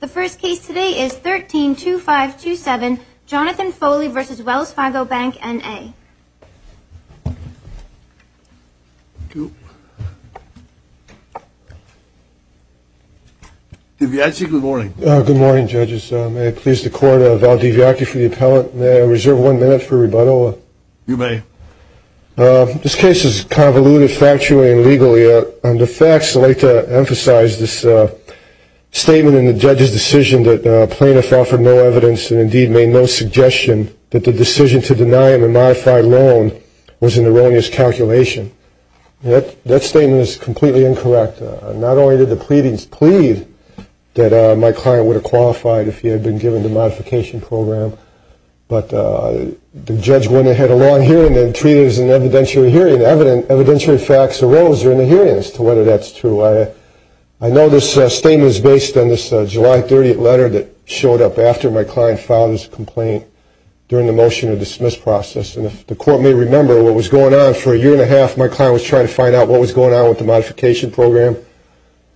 The first case today is 13-2527, Jonathan Foley v. Wells Fargo Bank, N.A. DiViacchi, good morning. Good morning, judges. May it please the court, I'll deviacchi for the appellant. May I reserve one minute for rebuttal? You may. This case is convoluted factually and legally. On the facts, I'd like to emphasize this statement in the judge's decision that plaintiff offered no evidence and indeed made no suggestion that the decision to deny him a modified loan was an erroneous calculation. That statement is completely incorrect. Not only did the pleadings plead that my client would have qualified if he had been given the modification program, but the judge went ahead with a long hearing and treated it as an evidentiary hearing. Evidentiary facts arose during the hearing as to whether that's true. I know this statement is based on this July 30th letter that showed up after my client filed his complaint during the motion to dismiss process. And if the court may remember, what was going on for a year and a half, my client was trying to find out what was going on with the modification program.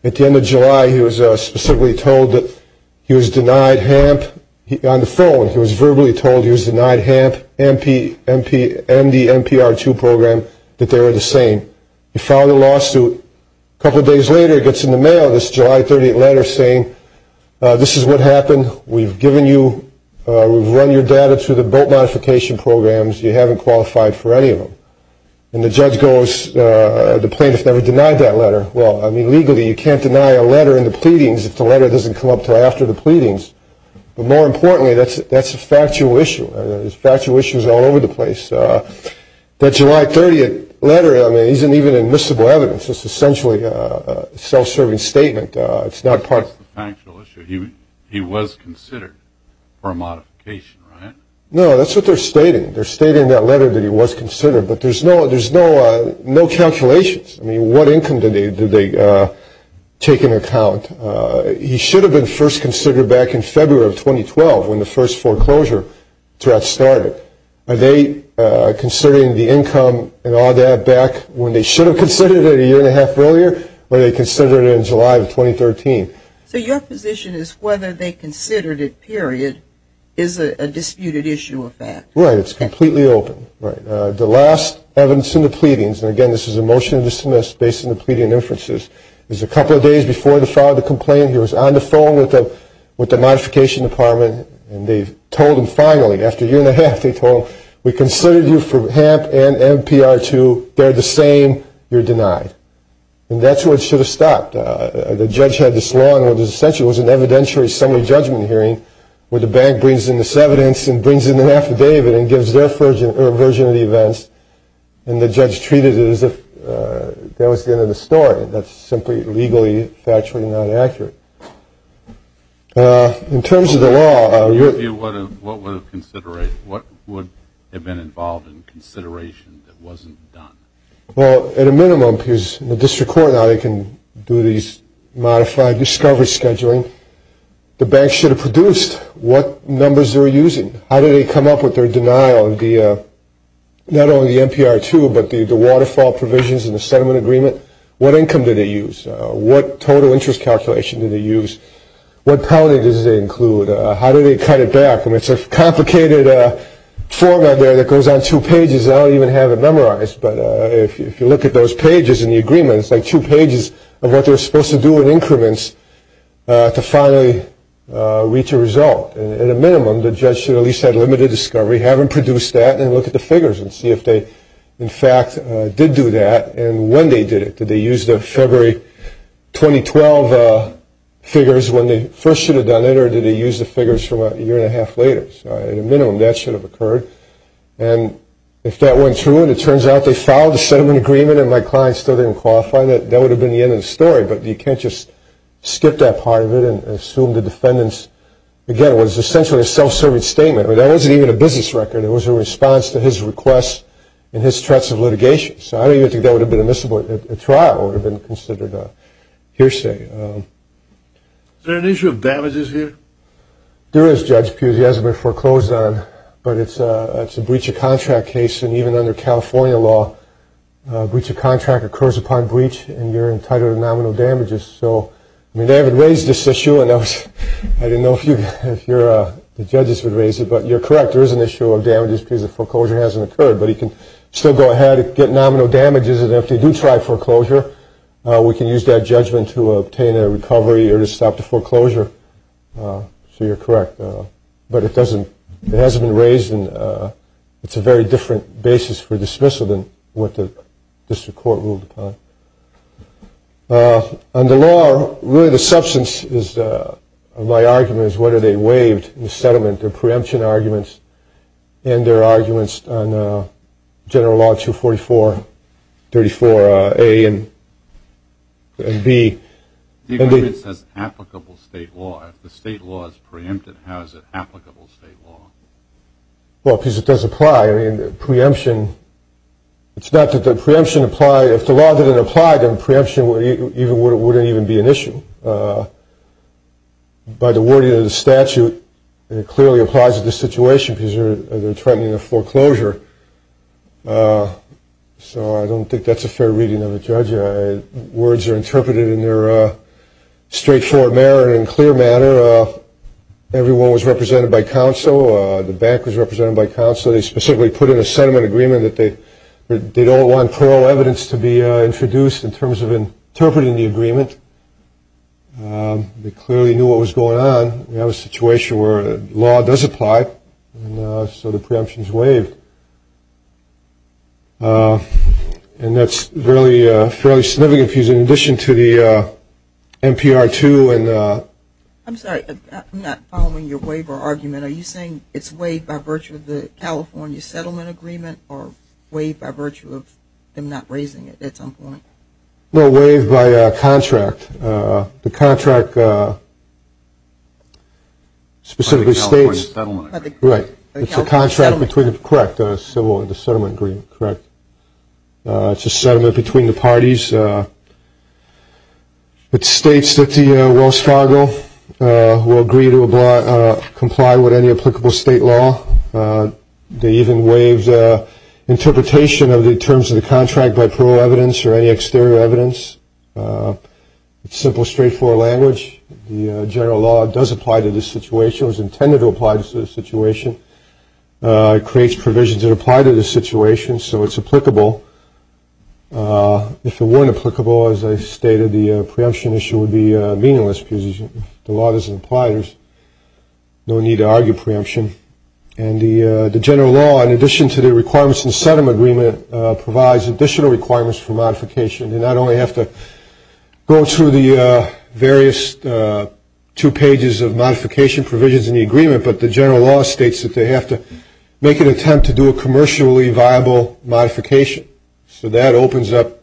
At the end of July, he was specifically told that he was denied HAMP. On the phone, he was verbally told he was denied HAMP, MP, MD, MPR2 program, that they were the same. He filed a lawsuit. A couple of days later, it gets in the mail, this July 30th letter saying, this is what happened. We've given you, we've run your data through the boat modification programs. You haven't qualified for any of them. And the judge goes, the plaintiff never denied that letter. Well, I mean, legally, you can't deny a letter in the pleadings if the letter doesn't come up until after the pleadings. But more importantly, that's a factual issue. There's factual issues all over the place. That July 30th letter, I mean, isn't even admissible evidence. It's essentially a self-serving statement. It's not part of the factual issue. He was considered for a modification, right? No, that's what they're stating. They're stating in that letter that he was considered. But there's no calculations. I mean, what income did they take into account? He should have been first considered back in February of 2012 when the first foreclosure threat started. Are they considering the income and all that back when they should have considered it a year and a half earlier, or are they considering it in July of 2013? So your position is whether they considered it, period, is a disputed issue of fact. Right. It's completely open. Right. The last evidence in the pleadings, and, again, this is a motion to dismiss based on the pleading inferences, is a couple of days before the file of the complaint, he was on the phone with the modification department, and they told him finally, after a year and a half, they told him, we considered you for HAMP and MPR2. They're the same. You're denied. And that's where it should have stopped. The judge had this law, and it was essentially an evidentiary summary judgment hearing where the bank brings in this evidence and brings in an affidavit and gives their version of the events, and the judge treated it as if that was the end of the story. That's simply legally factually not accurate. In terms of the law, what would have been involved in consideration that wasn't done? Well, at a minimum, because in the district court now they can do these modified discovery scheduling, the bank should have produced what numbers they were using. How did they come up with their denial of not only the MPR2, but the waterfall provisions in the settlement agreement? What income did they use? What total interest calculation did they use? What penalty did they include? How did they cut it back? I mean, it's a complicated format there that goes on two pages. I don't even have it memorized, but if you look at those pages in the agreement, it's like two pages of what they were supposed to do in increments to finally reach a result. At a minimum, the judge should at least have limited discovery, have them produce that, and look at the figures and see if they, in fact, did do that, and when they did it. Did they use the February 2012 figures when they first should have done it, or did they use the figures from a year and a half later? So at a minimum, that should have occurred. And if that went through and it turns out they filed a settlement agreement and my client still didn't qualify, that would have been the end of the story. But you can't just skip that part of it and assume the defendants, again, was essentially a self-serving statement. That wasn't even a business record. It was a response to his request and his threats of litigation. So I don't even think that would have been admissible at trial. It would have been considered a hearsay. Is there an issue of damages here? There is, Judge Pugliese. It hasn't been foreclosed on, but it's a breach of contract case, and even under California law, a breach of contract occurs upon breach and you're entitled to nominal damages. They haven't raised this issue, and I didn't know if the judges would raise it, but you're correct, there is an issue of damages because the foreclosure hasn't occurred. But you can still go ahead and get nominal damages, and if they do try foreclosure, we can use that judgment to obtain a recovery or to stop the foreclosure. So you're correct. But it hasn't been raised, and it's a very different basis for dismissal than what the district court ruled upon. Under law, really the substance of my argument is whether they waived the settlement, their preemption arguments, and their arguments on General Law 244, 34A and B. The agreement says applicable state law. If the state law is preempted, how is it applicable state law? Well, because it does apply. I mean, preemption, it's not that the preemption applied. If the law didn't apply, then preemption wouldn't even be an issue. By the wording of the statute, it clearly applies to this situation because they're threatening a foreclosure. So I don't think that's a fair reading of the judge. Words are interpreted in their straightforward manner and in a clear manner. Everyone was represented by counsel. The bank was represented by counsel. So they specifically put in a settlement agreement that they don't want plural evidence to be introduced in terms of interpreting the agreement. They clearly knew what was going on. We have a situation where law does apply, and so the preemption is waived. And that's fairly significant in addition to the NPR 2. I'm sorry, I'm not following your waiver argument. Are you saying it's waived by virtue of the California settlement agreement or waived by virtue of them not raising it at some point? No, waived by contract. The contract specifically states the contract between the settlement agreement, correct. It's a settlement between the parties. It states that the Wells Fargo will agree to comply with any applicable state law. They even waived interpretation of the terms of the contract by plural evidence or any exterior evidence. It's simple, straightforward language. The general law does apply to this situation, or is intended to apply to this situation. It creates provisions that apply to this situation, so it's applicable. If it weren't applicable, as I stated, the preemption issue would be meaningless because the law doesn't apply. There's no need to argue preemption. And the general law, in addition to the requirements in the settlement agreement, provides additional requirements for modification. You not only have to go through the various two pages of modification provisions in the agreement, but the general law states that they have to make an attempt to do a commercially viable modification. So that opens up,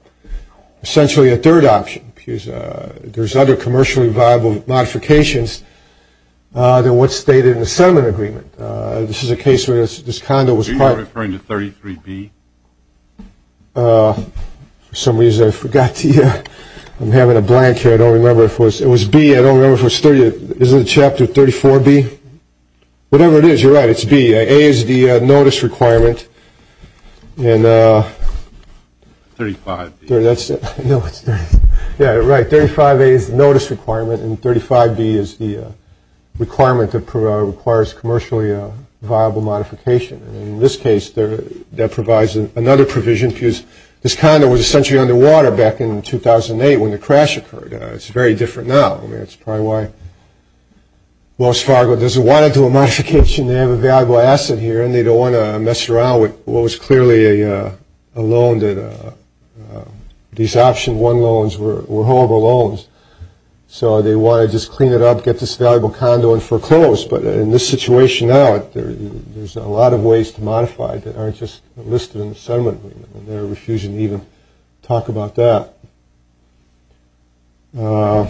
essentially, a third option. There's other commercially viable modifications than what's stated in the settlement agreement. This is a case where this condo was part of it. Are you referring to 33B? For some reason, I forgot. I'm having a blank here. I don't remember if it was B. I don't remember if it was 30. Is it Chapter 34B? Whatever it is, you're right. It's B. A is the notice requirement. 35B. Yeah, right. 35A is the notice requirement, and 35B is the requirement that requires commercially viable modification. In this case, that provides another provision because this condo was essentially underwater back in 2008 when the crash occurred. It's very different now. I mean, it's probably why Wells Fargo doesn't want to do a modification. They have a valuable asset here, and they don't want to mess around with what was clearly a loan that these Option 1 loans were horrible loans. So they want to just clean it up, get this valuable condo and foreclose. But in this situation now, there's a lot of ways to modify it that aren't just listed in the settlement agreement, and they're refusing to even talk about that. There's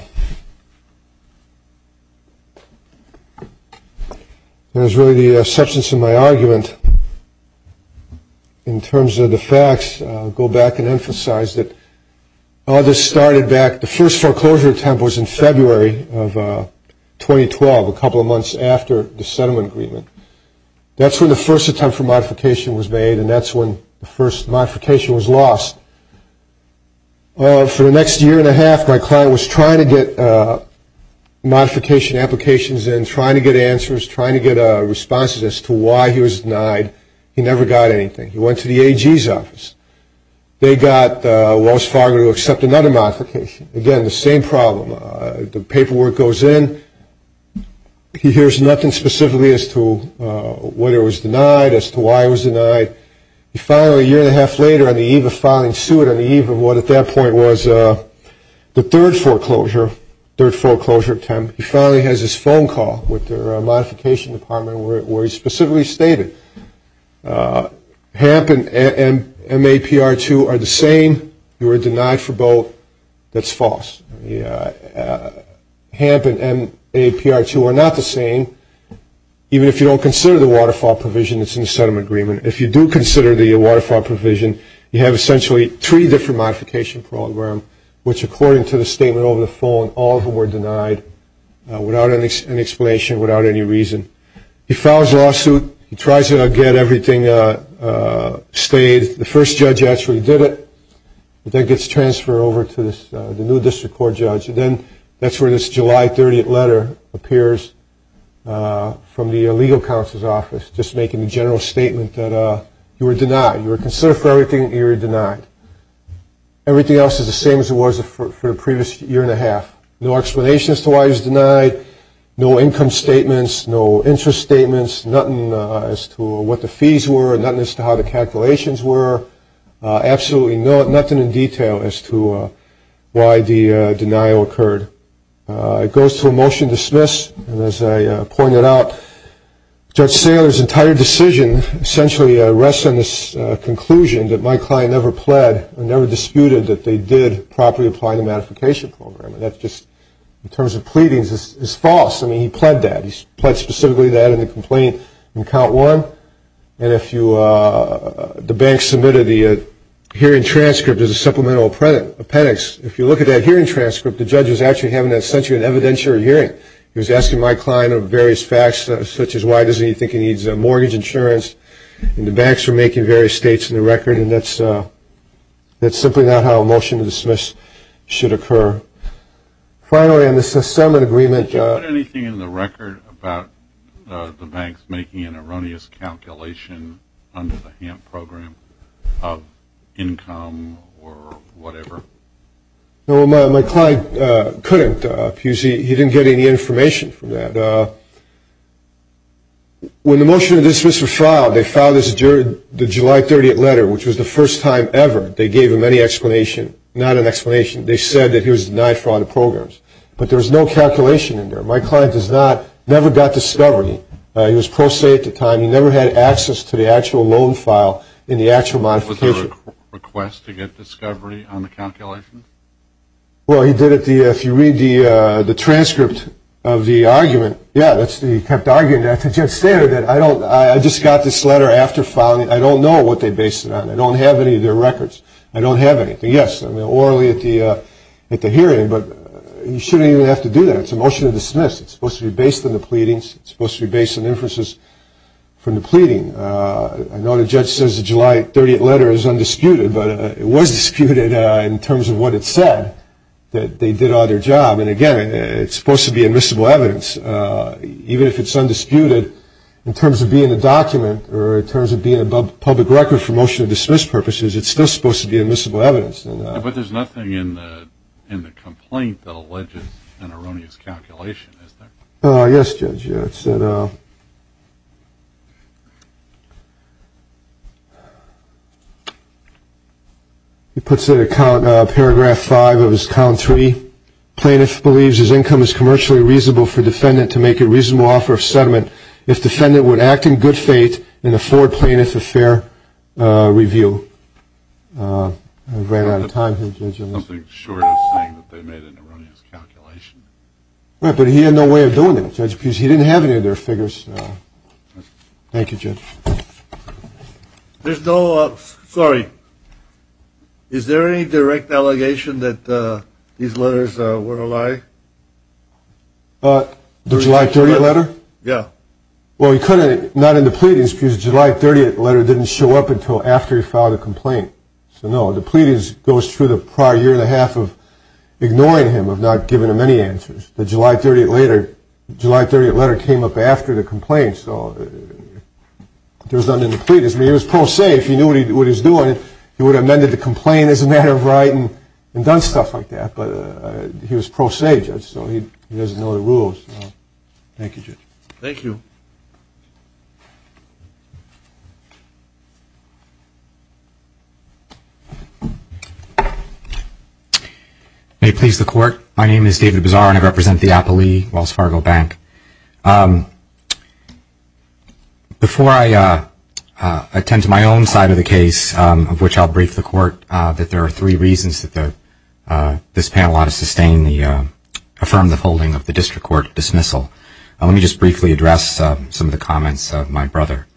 really the substance of my argument in terms of the facts. I'll go back and emphasize that all this started back, the first foreclosure attempt was in February of 2012, a couple of months after the settlement agreement. That's when the first attempt for modification was made, and that's when the first modification was lost. For the next year and a half, my client was trying to get modification applications in, trying to get answers, trying to get responses as to why he was denied. He never got anything. He went to the AG's office. They got Wells Fargo to accept another modification. Again, the same problem. The paperwork goes in. He hears nothing specifically as to whether he was denied, as to why he was denied. He finally, a year and a half later, on the eve of filing suit, on the eve of what at that point was the third foreclosure attempt, he finally has this phone call with their modification department where he specifically stated, HAMP and MAPR2 are the same. You were denied for both. That's false. HAMP and MAPR2 are not the same, even if you don't consider the waterfall provision that's in the settlement agreement. If you do consider the waterfall provision, you have essentially three different modification programs, which according to the statement over the phone, all of them were denied, without any explanation, without any reason. He files a lawsuit. He tries to get everything stayed. The first judge actually did it. That gets transferred over to the new district court judge. Then that's where this July 30th letter appears from the legal counsel's office, just making the general statement that you were denied. You were considered for everything. You were denied. Everything else is the same as it was for the previous year and a half. No explanation as to why he was denied. No income statements. No interest statements. Nothing as to what the fees were. Nothing as to how the calculations were. Absolutely nothing in detail as to why the denial occurred. It goes to a motion to dismiss. And as I pointed out, Judge Saylor's entire decision essentially rests on this conclusion that my client never pled, never disputed that they did properly apply the modification program. And that's just, in terms of pleadings, is false. I mean, he pled that. He pled specifically that in the complaint in count one. And if you, the bank submitted the hearing transcript as a supplemental appendix. If you look at that hearing transcript, the judge was actually having essentially an evidentiary hearing. He was asking my client of various facts, such as why does he think he needs mortgage insurance. And the banks were making various states in the record. And that's simply not how a motion to dismiss should occur. Finally, on the settlement agreement. Did you put anything in the record about the banks making an erroneous calculation under the HAMP program of income or whatever? No, my client couldn't. He didn't get any information from that. When the motion to dismiss was filed, they filed this during the July 30th letter, which was the first time ever they gave him any explanation. Not an explanation. They said that he was denied for all the programs. But there was no calculation in there. My client never got discovery. He was pro se at the time. He never had access to the actual loan file in the actual modification. Was there a request to get discovery on the calculation? Well, he did it if you read the transcript of the argument. Yeah, he kept arguing that. The judge stated that I just got this letter after filing it. I don't know what they based it on. I don't have any of their records. I don't have anything. Yes, orally at the hearing, but you shouldn't even have to do that. It's a motion to dismiss. It's supposed to be based on the pleadings. It's supposed to be based on inferences from the pleading. I know the judge says the July 30th letter is undisputed, but it was disputed in terms of what it said, that they did all their job. And, again, it's supposed to be admissible evidence. Even if it's undisputed in terms of being a document or in terms of being above the public record for motion to dismiss purposes, it's still supposed to be admissible evidence. But there's nothing in the complaint that alleges an erroneous calculation, is there? Yes, Judge. He puts it at paragraph five of his count three. Plaintiff believes his income is commercially reasonable for defendant to make a reasonable offer of settlement if defendant would act in good faith and afford plaintiff a fair review. I ran out of time here, Judge. But he had no way of doing it, Judge, because he didn't have any of their figures. Thank you, Judge. There's no – sorry. Is there any direct allegation that these letters were a lie? The July 30th letter? Yeah. Well, he couldn't – not in the pleadings, because the July 30th letter didn't show up until after he filed the complaint. So, no, the pleadings goes through the prior year and a half of ignoring him, of not giving him any answers. The July 30th letter came up after the complaint, so there was nothing in the pleadings. I mean, he was pro se. If he knew what he was doing, he would have amended the complaint as a matter of right and done stuff like that. But he was pro se, Judge, so he doesn't know the rules. Thank you, Judge. Thank you. May it please the Court. My name is David Bizarro, and I represent the Appley Wells Fargo Bank. Before I attend to my own side of the case, of which I'll brief the Court, that there are three reasons that this panel ought to sustain the – affirm the holding of the district court dismissal. Let me just briefly address some of the comments of my brother.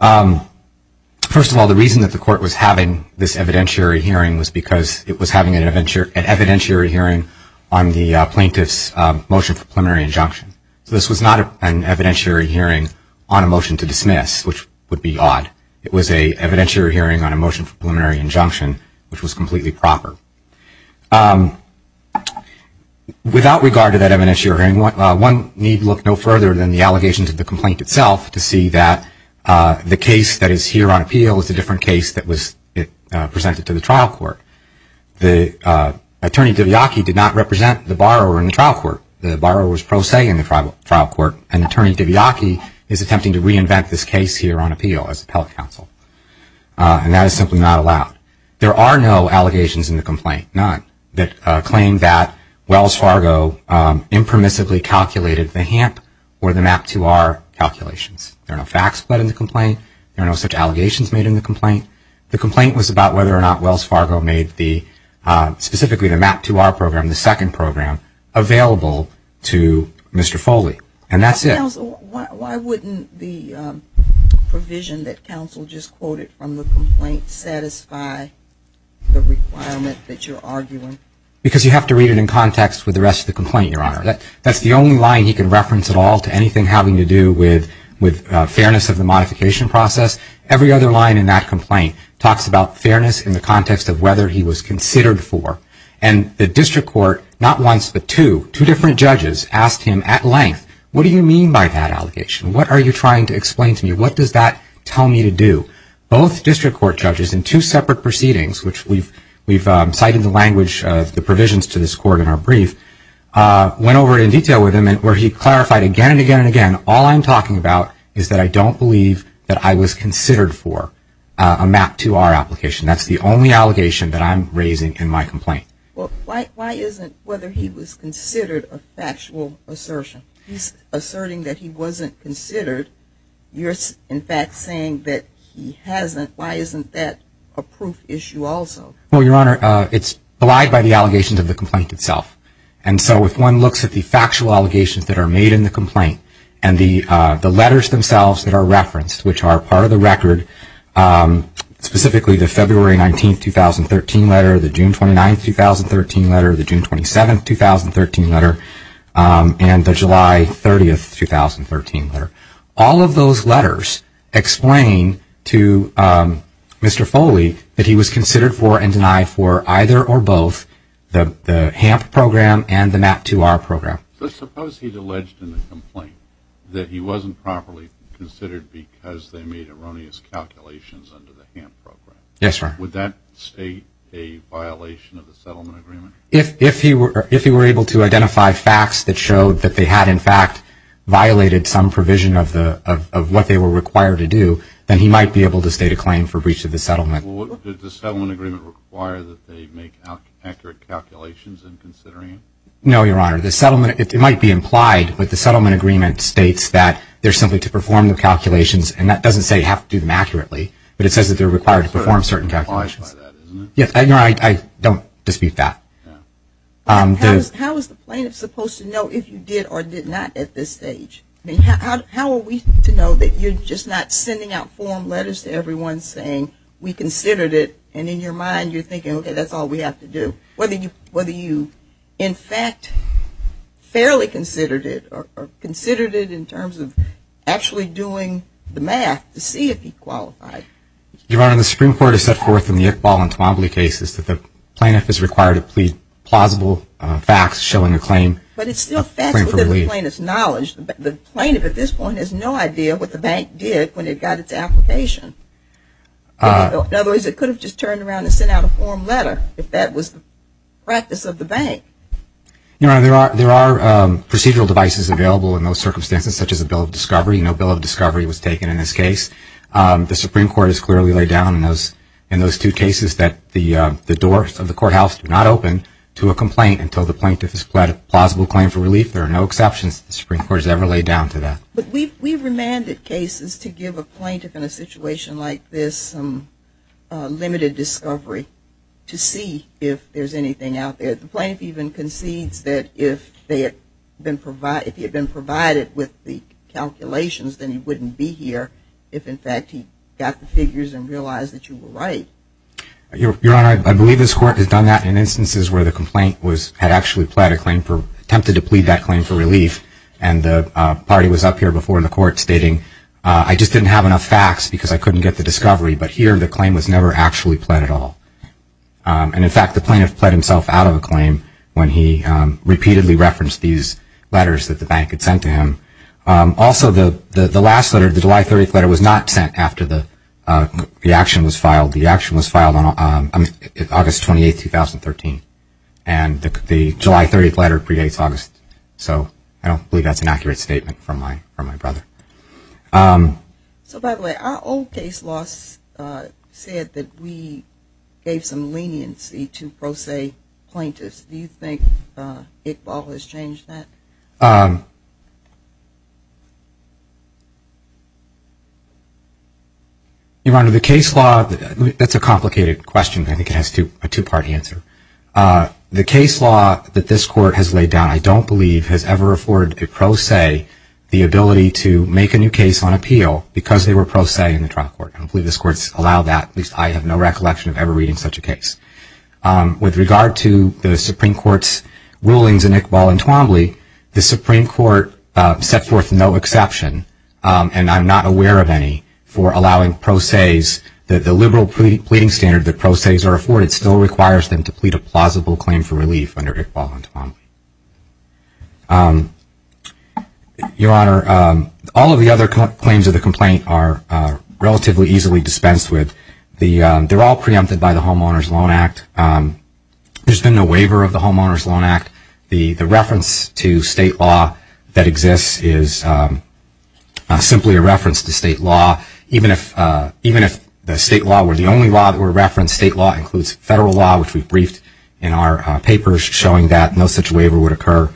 First of all, the reason that the Court was having this evidentiary hearing was because it was having an evidentiary hearing on the plaintiff's motion for preliminary injunction. So this was not an evidentiary hearing on a motion to dismiss, which would be odd. It was an evidentiary hearing on a motion for preliminary injunction, which was completely proper. Without regard to that evidentiary hearing, one need look no further than the allegations of the complaint itself to see that the case that is here on appeal is a different case that was presented to the trial court. The Attorney Diviaki did not represent the borrower in the trial court. The borrower was pro se in the trial court, and Attorney Diviaki is attempting to reinvent this case here on appeal as appellate counsel, and that is simply not allowed. There are no allegations in the complaint, none, that claim that Wells Fargo impermissibly calculated the HAMP or the MAP II-R calculations. There are no facts put in the complaint. There are no such allegations made in the complaint. The complaint was about whether or not Wells Fargo made the – available to Mr. Foley, and that's it. Counsel, why wouldn't the provision that counsel just quoted from the complaint satisfy the requirement that you're arguing? Because you have to read it in context with the rest of the complaint, Your Honor. That's the only line he can reference at all to anything having to do with fairness of the modification process. Every other line in that complaint talks about fairness in the context of whether he was considered for, and the district court not once but two, two different judges asked him at length, what do you mean by that allegation? What are you trying to explain to me? What does that tell me to do? Both district court judges in two separate proceedings, which we've cited the language of the provisions to this court in our brief, went over it in detail with him where he clarified again and again and again, all I'm talking about is that I don't believe that I was considered for a MAP II-R application. That's the only allegation that I'm raising in my complaint. Well, why isn't whether he was considered a factual assertion? He's asserting that he wasn't considered. You're, in fact, saying that he hasn't. Why isn't that a proof issue also? Well, Your Honor, it's belied by the allegations of the complaint itself. And so if one looks at the factual allegations that are made in the complaint and the letters themselves that are referenced, which are part of the record, specifically the February 19, 2013 letter, the June 29, 2013 letter, the June 27, 2013 letter, and the July 30, 2013 letter, all of those letters explain to Mr. Foley that he was considered for and denied for either or both the HAMP program and the MAP II-R program. So suppose he's alleged in the complaint that he wasn't properly considered because they made erroneous calculations under the HAMP program. Yes, Your Honor. Would that state a violation of the settlement agreement? If he were able to identify facts that showed that they had, in fact, violated some provision of what they were required to do, then he might be able to state a claim for breach of the settlement. Did the settlement agreement require that they make accurate calculations in considering it? No, Your Honor. The settlement, it might be implied, but the settlement agreement states that they're simply to perform the calculations, and that doesn't say you have to do them accurately, but it says that they're required to perform certain calculations. I don't dispute that. How is the plaintiff supposed to know if you did or did not at this stage? I mean, how are we to know that you're just not sending out form letters to everyone saying we considered it, and in your mind you're thinking, okay, that's all we have to do? Whether you, in fact, fairly considered it, or considered it in terms of actually doing the math to see if he qualified. Your Honor, the Supreme Court has set forth in the Iqbal and Tamably cases that the plaintiff is required to plead plausible facts showing a claim. But it's still facts within the plaintiff's knowledge. The plaintiff at this point has no idea what the bank did when it got its application. In other words, it could have just turned around and sent out a form letter if that was the practice of the bank. Your Honor, there are procedural devices available in those circumstances, such as a bill of discovery. No bill of discovery was taken in this case. The Supreme Court has clearly laid down in those two cases that the doors of the courthouse do not open to a complaint until the plaintiff has pled a plausible claim for relief. There are no exceptions that the Supreme Court has ever laid down to that. But we've remanded cases to give a plaintiff in a situation like this some limited discovery to see if there's anything out there. The plaintiff even concedes that if they had been provided, if he had been provided with the calculations, then he wouldn't be here if, in fact, he got the figures and realized that you were right. Your Honor, I believe this Court has done that in instances where the complaint had actually pled a claim, attempted to plead that claim for relief. And the party was up here before in the Court stating, I just didn't have enough facts because I couldn't get the discovery. But here the claim was never actually pled at all. And, in fact, the plaintiff pled himself out of a claim when he repeatedly referenced these letters that the bank had sent to him. Also, the last letter, the July 30th letter, was not sent after the action was filed. The action was filed on August 28, 2013. And the July 30th letter predates August. So I don't believe that's an accurate statement from my brother. So, by the way, our old case law said that we gave some leniency to pro se plaintiffs. Do you think Iqbal has changed that? Your Honor, the case law, that's a complicated question. I think it has a two-part answer. The case law that this Court has laid down, I don't believe, has ever afforded a pro se the ability to make a new case on appeal because they were pro se in the trial court. I don't believe this Court has allowed that. At least I have no recollection of ever reading such a case. With regard to the Supreme Court's rulings in Iqbal and Twombly, the Supreme Court set forth no exception, and I'm not aware of any, for allowing pro ses. The liberal pleading standard that pro ses are afforded still requires them to plead a plausible claim for relief under Iqbal and Twombly. Your Honor, all of the other claims of the complaint are relatively easily dispensed with. They're all preempted by the Homeowners' Loan Act. There's been no waiver of the Homeowners' Loan Act. The reference to state law that exists is simply a reference to state law. And state law includes federal law, which we've briefed in our papers, showing that no such waiver would occur.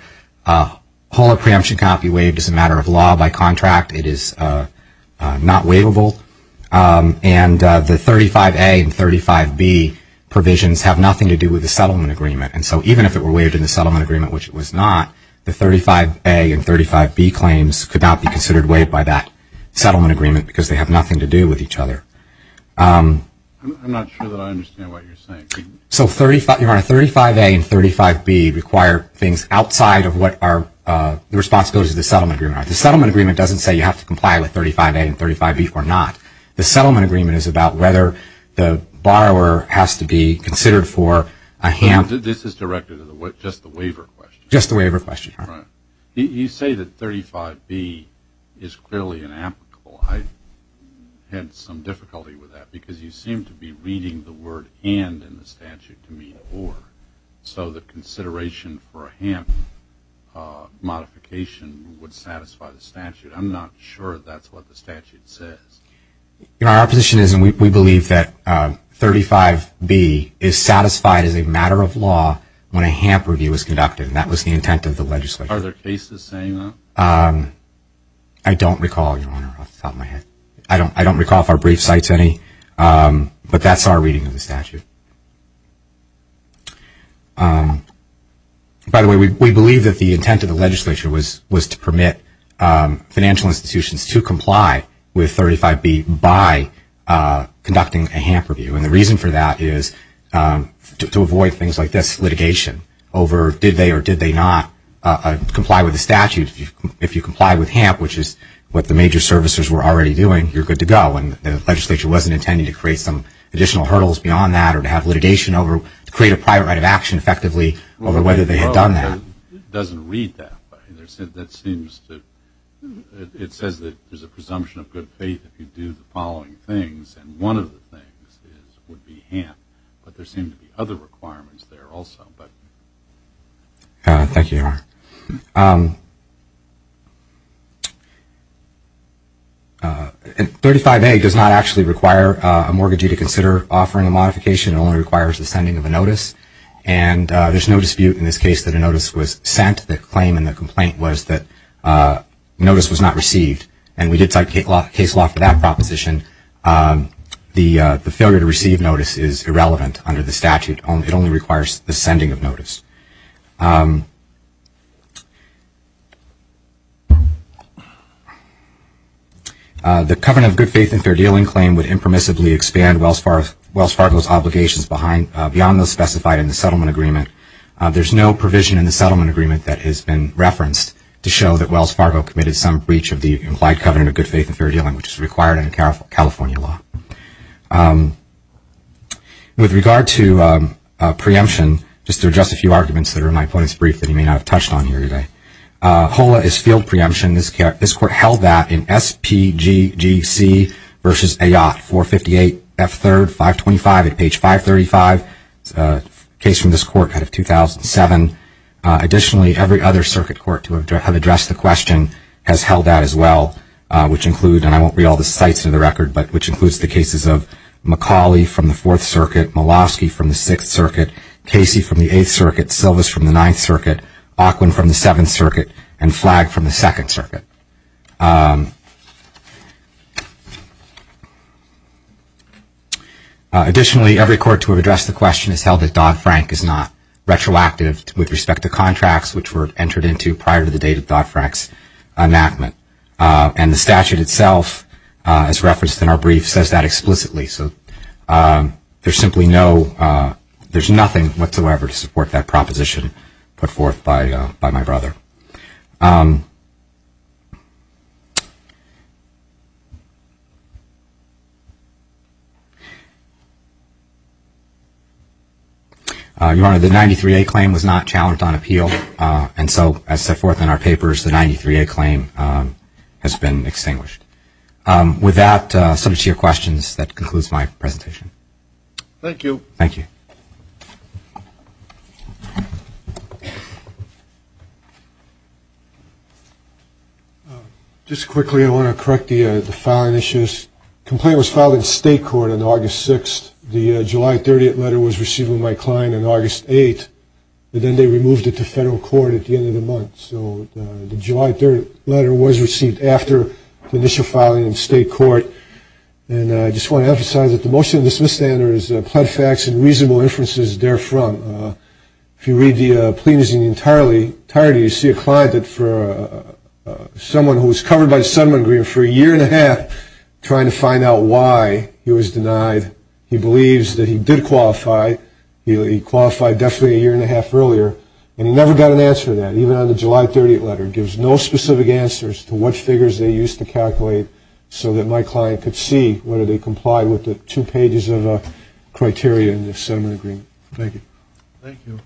Polar preemption cannot be waived as a matter of law by contract. It is not waivable. And the 35A and 35B provisions have nothing to do with the settlement agreement. And so even if it were waived in the settlement agreement, which it was not, the 35A and 35B claims could not be considered waived by that settlement agreement because they have nothing to do with each other. I'm not sure that I understand what you're saying. So, Your Honor, 35A and 35B require things outside of what are the responsibilities of the settlement agreement. The settlement agreement doesn't say you have to comply with 35A and 35B or not. The settlement agreement is about whether the borrower has to be considered for a hamper. This is directed at just the waiver question. Just the waiver question. Right. You say that 35B is clearly inapplicable. I had some difficulty with that because you seem to be reading the word and in the statute to mean or. So the consideration for a hamper modification would satisfy the statute. I'm not sure that's what the statute says. You know, our position is we believe that 35B is satisfied as a matter of law when a hamper review is conducted, and that was the intent of the legislature. Are there cases saying that? I don't recall, Your Honor, off the top of my head. I don't recall if our brief cites any, but that's our reading of the statute. By the way, we believe that the intent of the legislature was to permit financial institutions to comply with 35B by conducting a hamper review, and the reason for that is to avoid things like this litigation over did they or did they not comply with the statute. If you comply with HAMP, which is what the major servicers were already doing, you're good to go, and the legislature wasn't intending to create some additional hurdles beyond that or to have litigation over to create a private right of action effectively over whether they had done that. It doesn't read that way. It says that there's a presumption of good faith if you do the following things, and one of the things would be HAMP, but there seem to be other requirements there also. Thank you, Your Honor. 35A does not actually require a mortgagee to consider offering a modification. It only requires the sending of a notice, and there's no dispute in this case that a notice was sent. The claim in the complaint was that notice was not received, and we did cite case law for that proposition. The failure to receive notice is irrelevant under the statute. It only requires the sending of notice. The covenant of good faith and fair dealing claim would impermissibly expand Wells Fargo's obligations beyond those specified in the settlement agreement. There's no provision in the settlement agreement that has been referenced to show that Wells Fargo committed some breach of the implied covenant of good faith and fair dealing, which is required in California law. With regard to preemption, just to address a few arguments that are in my opponent's brief that he may not have touched on here today. HOLA is field preemption. This court held that in SPGGC v. Ayotte, 458 F3, 525 at page 535. It's a case from this court out of 2007. Additionally, every other circuit court to have addressed the question has held that as well, and I won't read all the sites in the record, but which includes the cases of McCauley from the Fourth Circuit, Milosky from the Sixth Circuit, Casey from the Eighth Circuit, Silvas from the Ninth Circuit, Ockwin from the Seventh Circuit, and Flagg from the Second Circuit. Additionally, every court to have addressed the question has held that Dodd-Frank is not retroactive with respect to contracts which were entered into prior to the date of Dodd-Frank's enactment. And the statute itself, as referenced in our brief, says that explicitly. So there's simply no, there's nothing whatsoever to support that proposition put forth by my brother. Your Honor, the 93A claim was not challenged on appeal, and so as set forth in our papers, the 93A claim has been extinguished. With that, subject to your questions, that concludes my presentation. Thank you. Just quickly, I want to correct the filing issues. The complaint was filed in state court on August 6th. The July 30th letter was received with my client on August 8th, and then they removed it to federal court at the end of the month. So the July 30th letter was received after the initial filing in state court, and I just want to emphasize that the motion in the Smith-Standard is pled facts and reasonable inferences therefrom. If you read the plaintiffs' union entirety, you see a client that for someone who was covered by the settlement agreement for a year and a half, trying to find out why he was denied. He believes that he did qualify. He qualified definitely a year and a half earlier, and he never got an answer to that, even on the July 30th letter. It gives no specific answers to what figures they used to calculate so that my client could see whether they complied with the two pages of criteria in the settlement agreement. Thank you.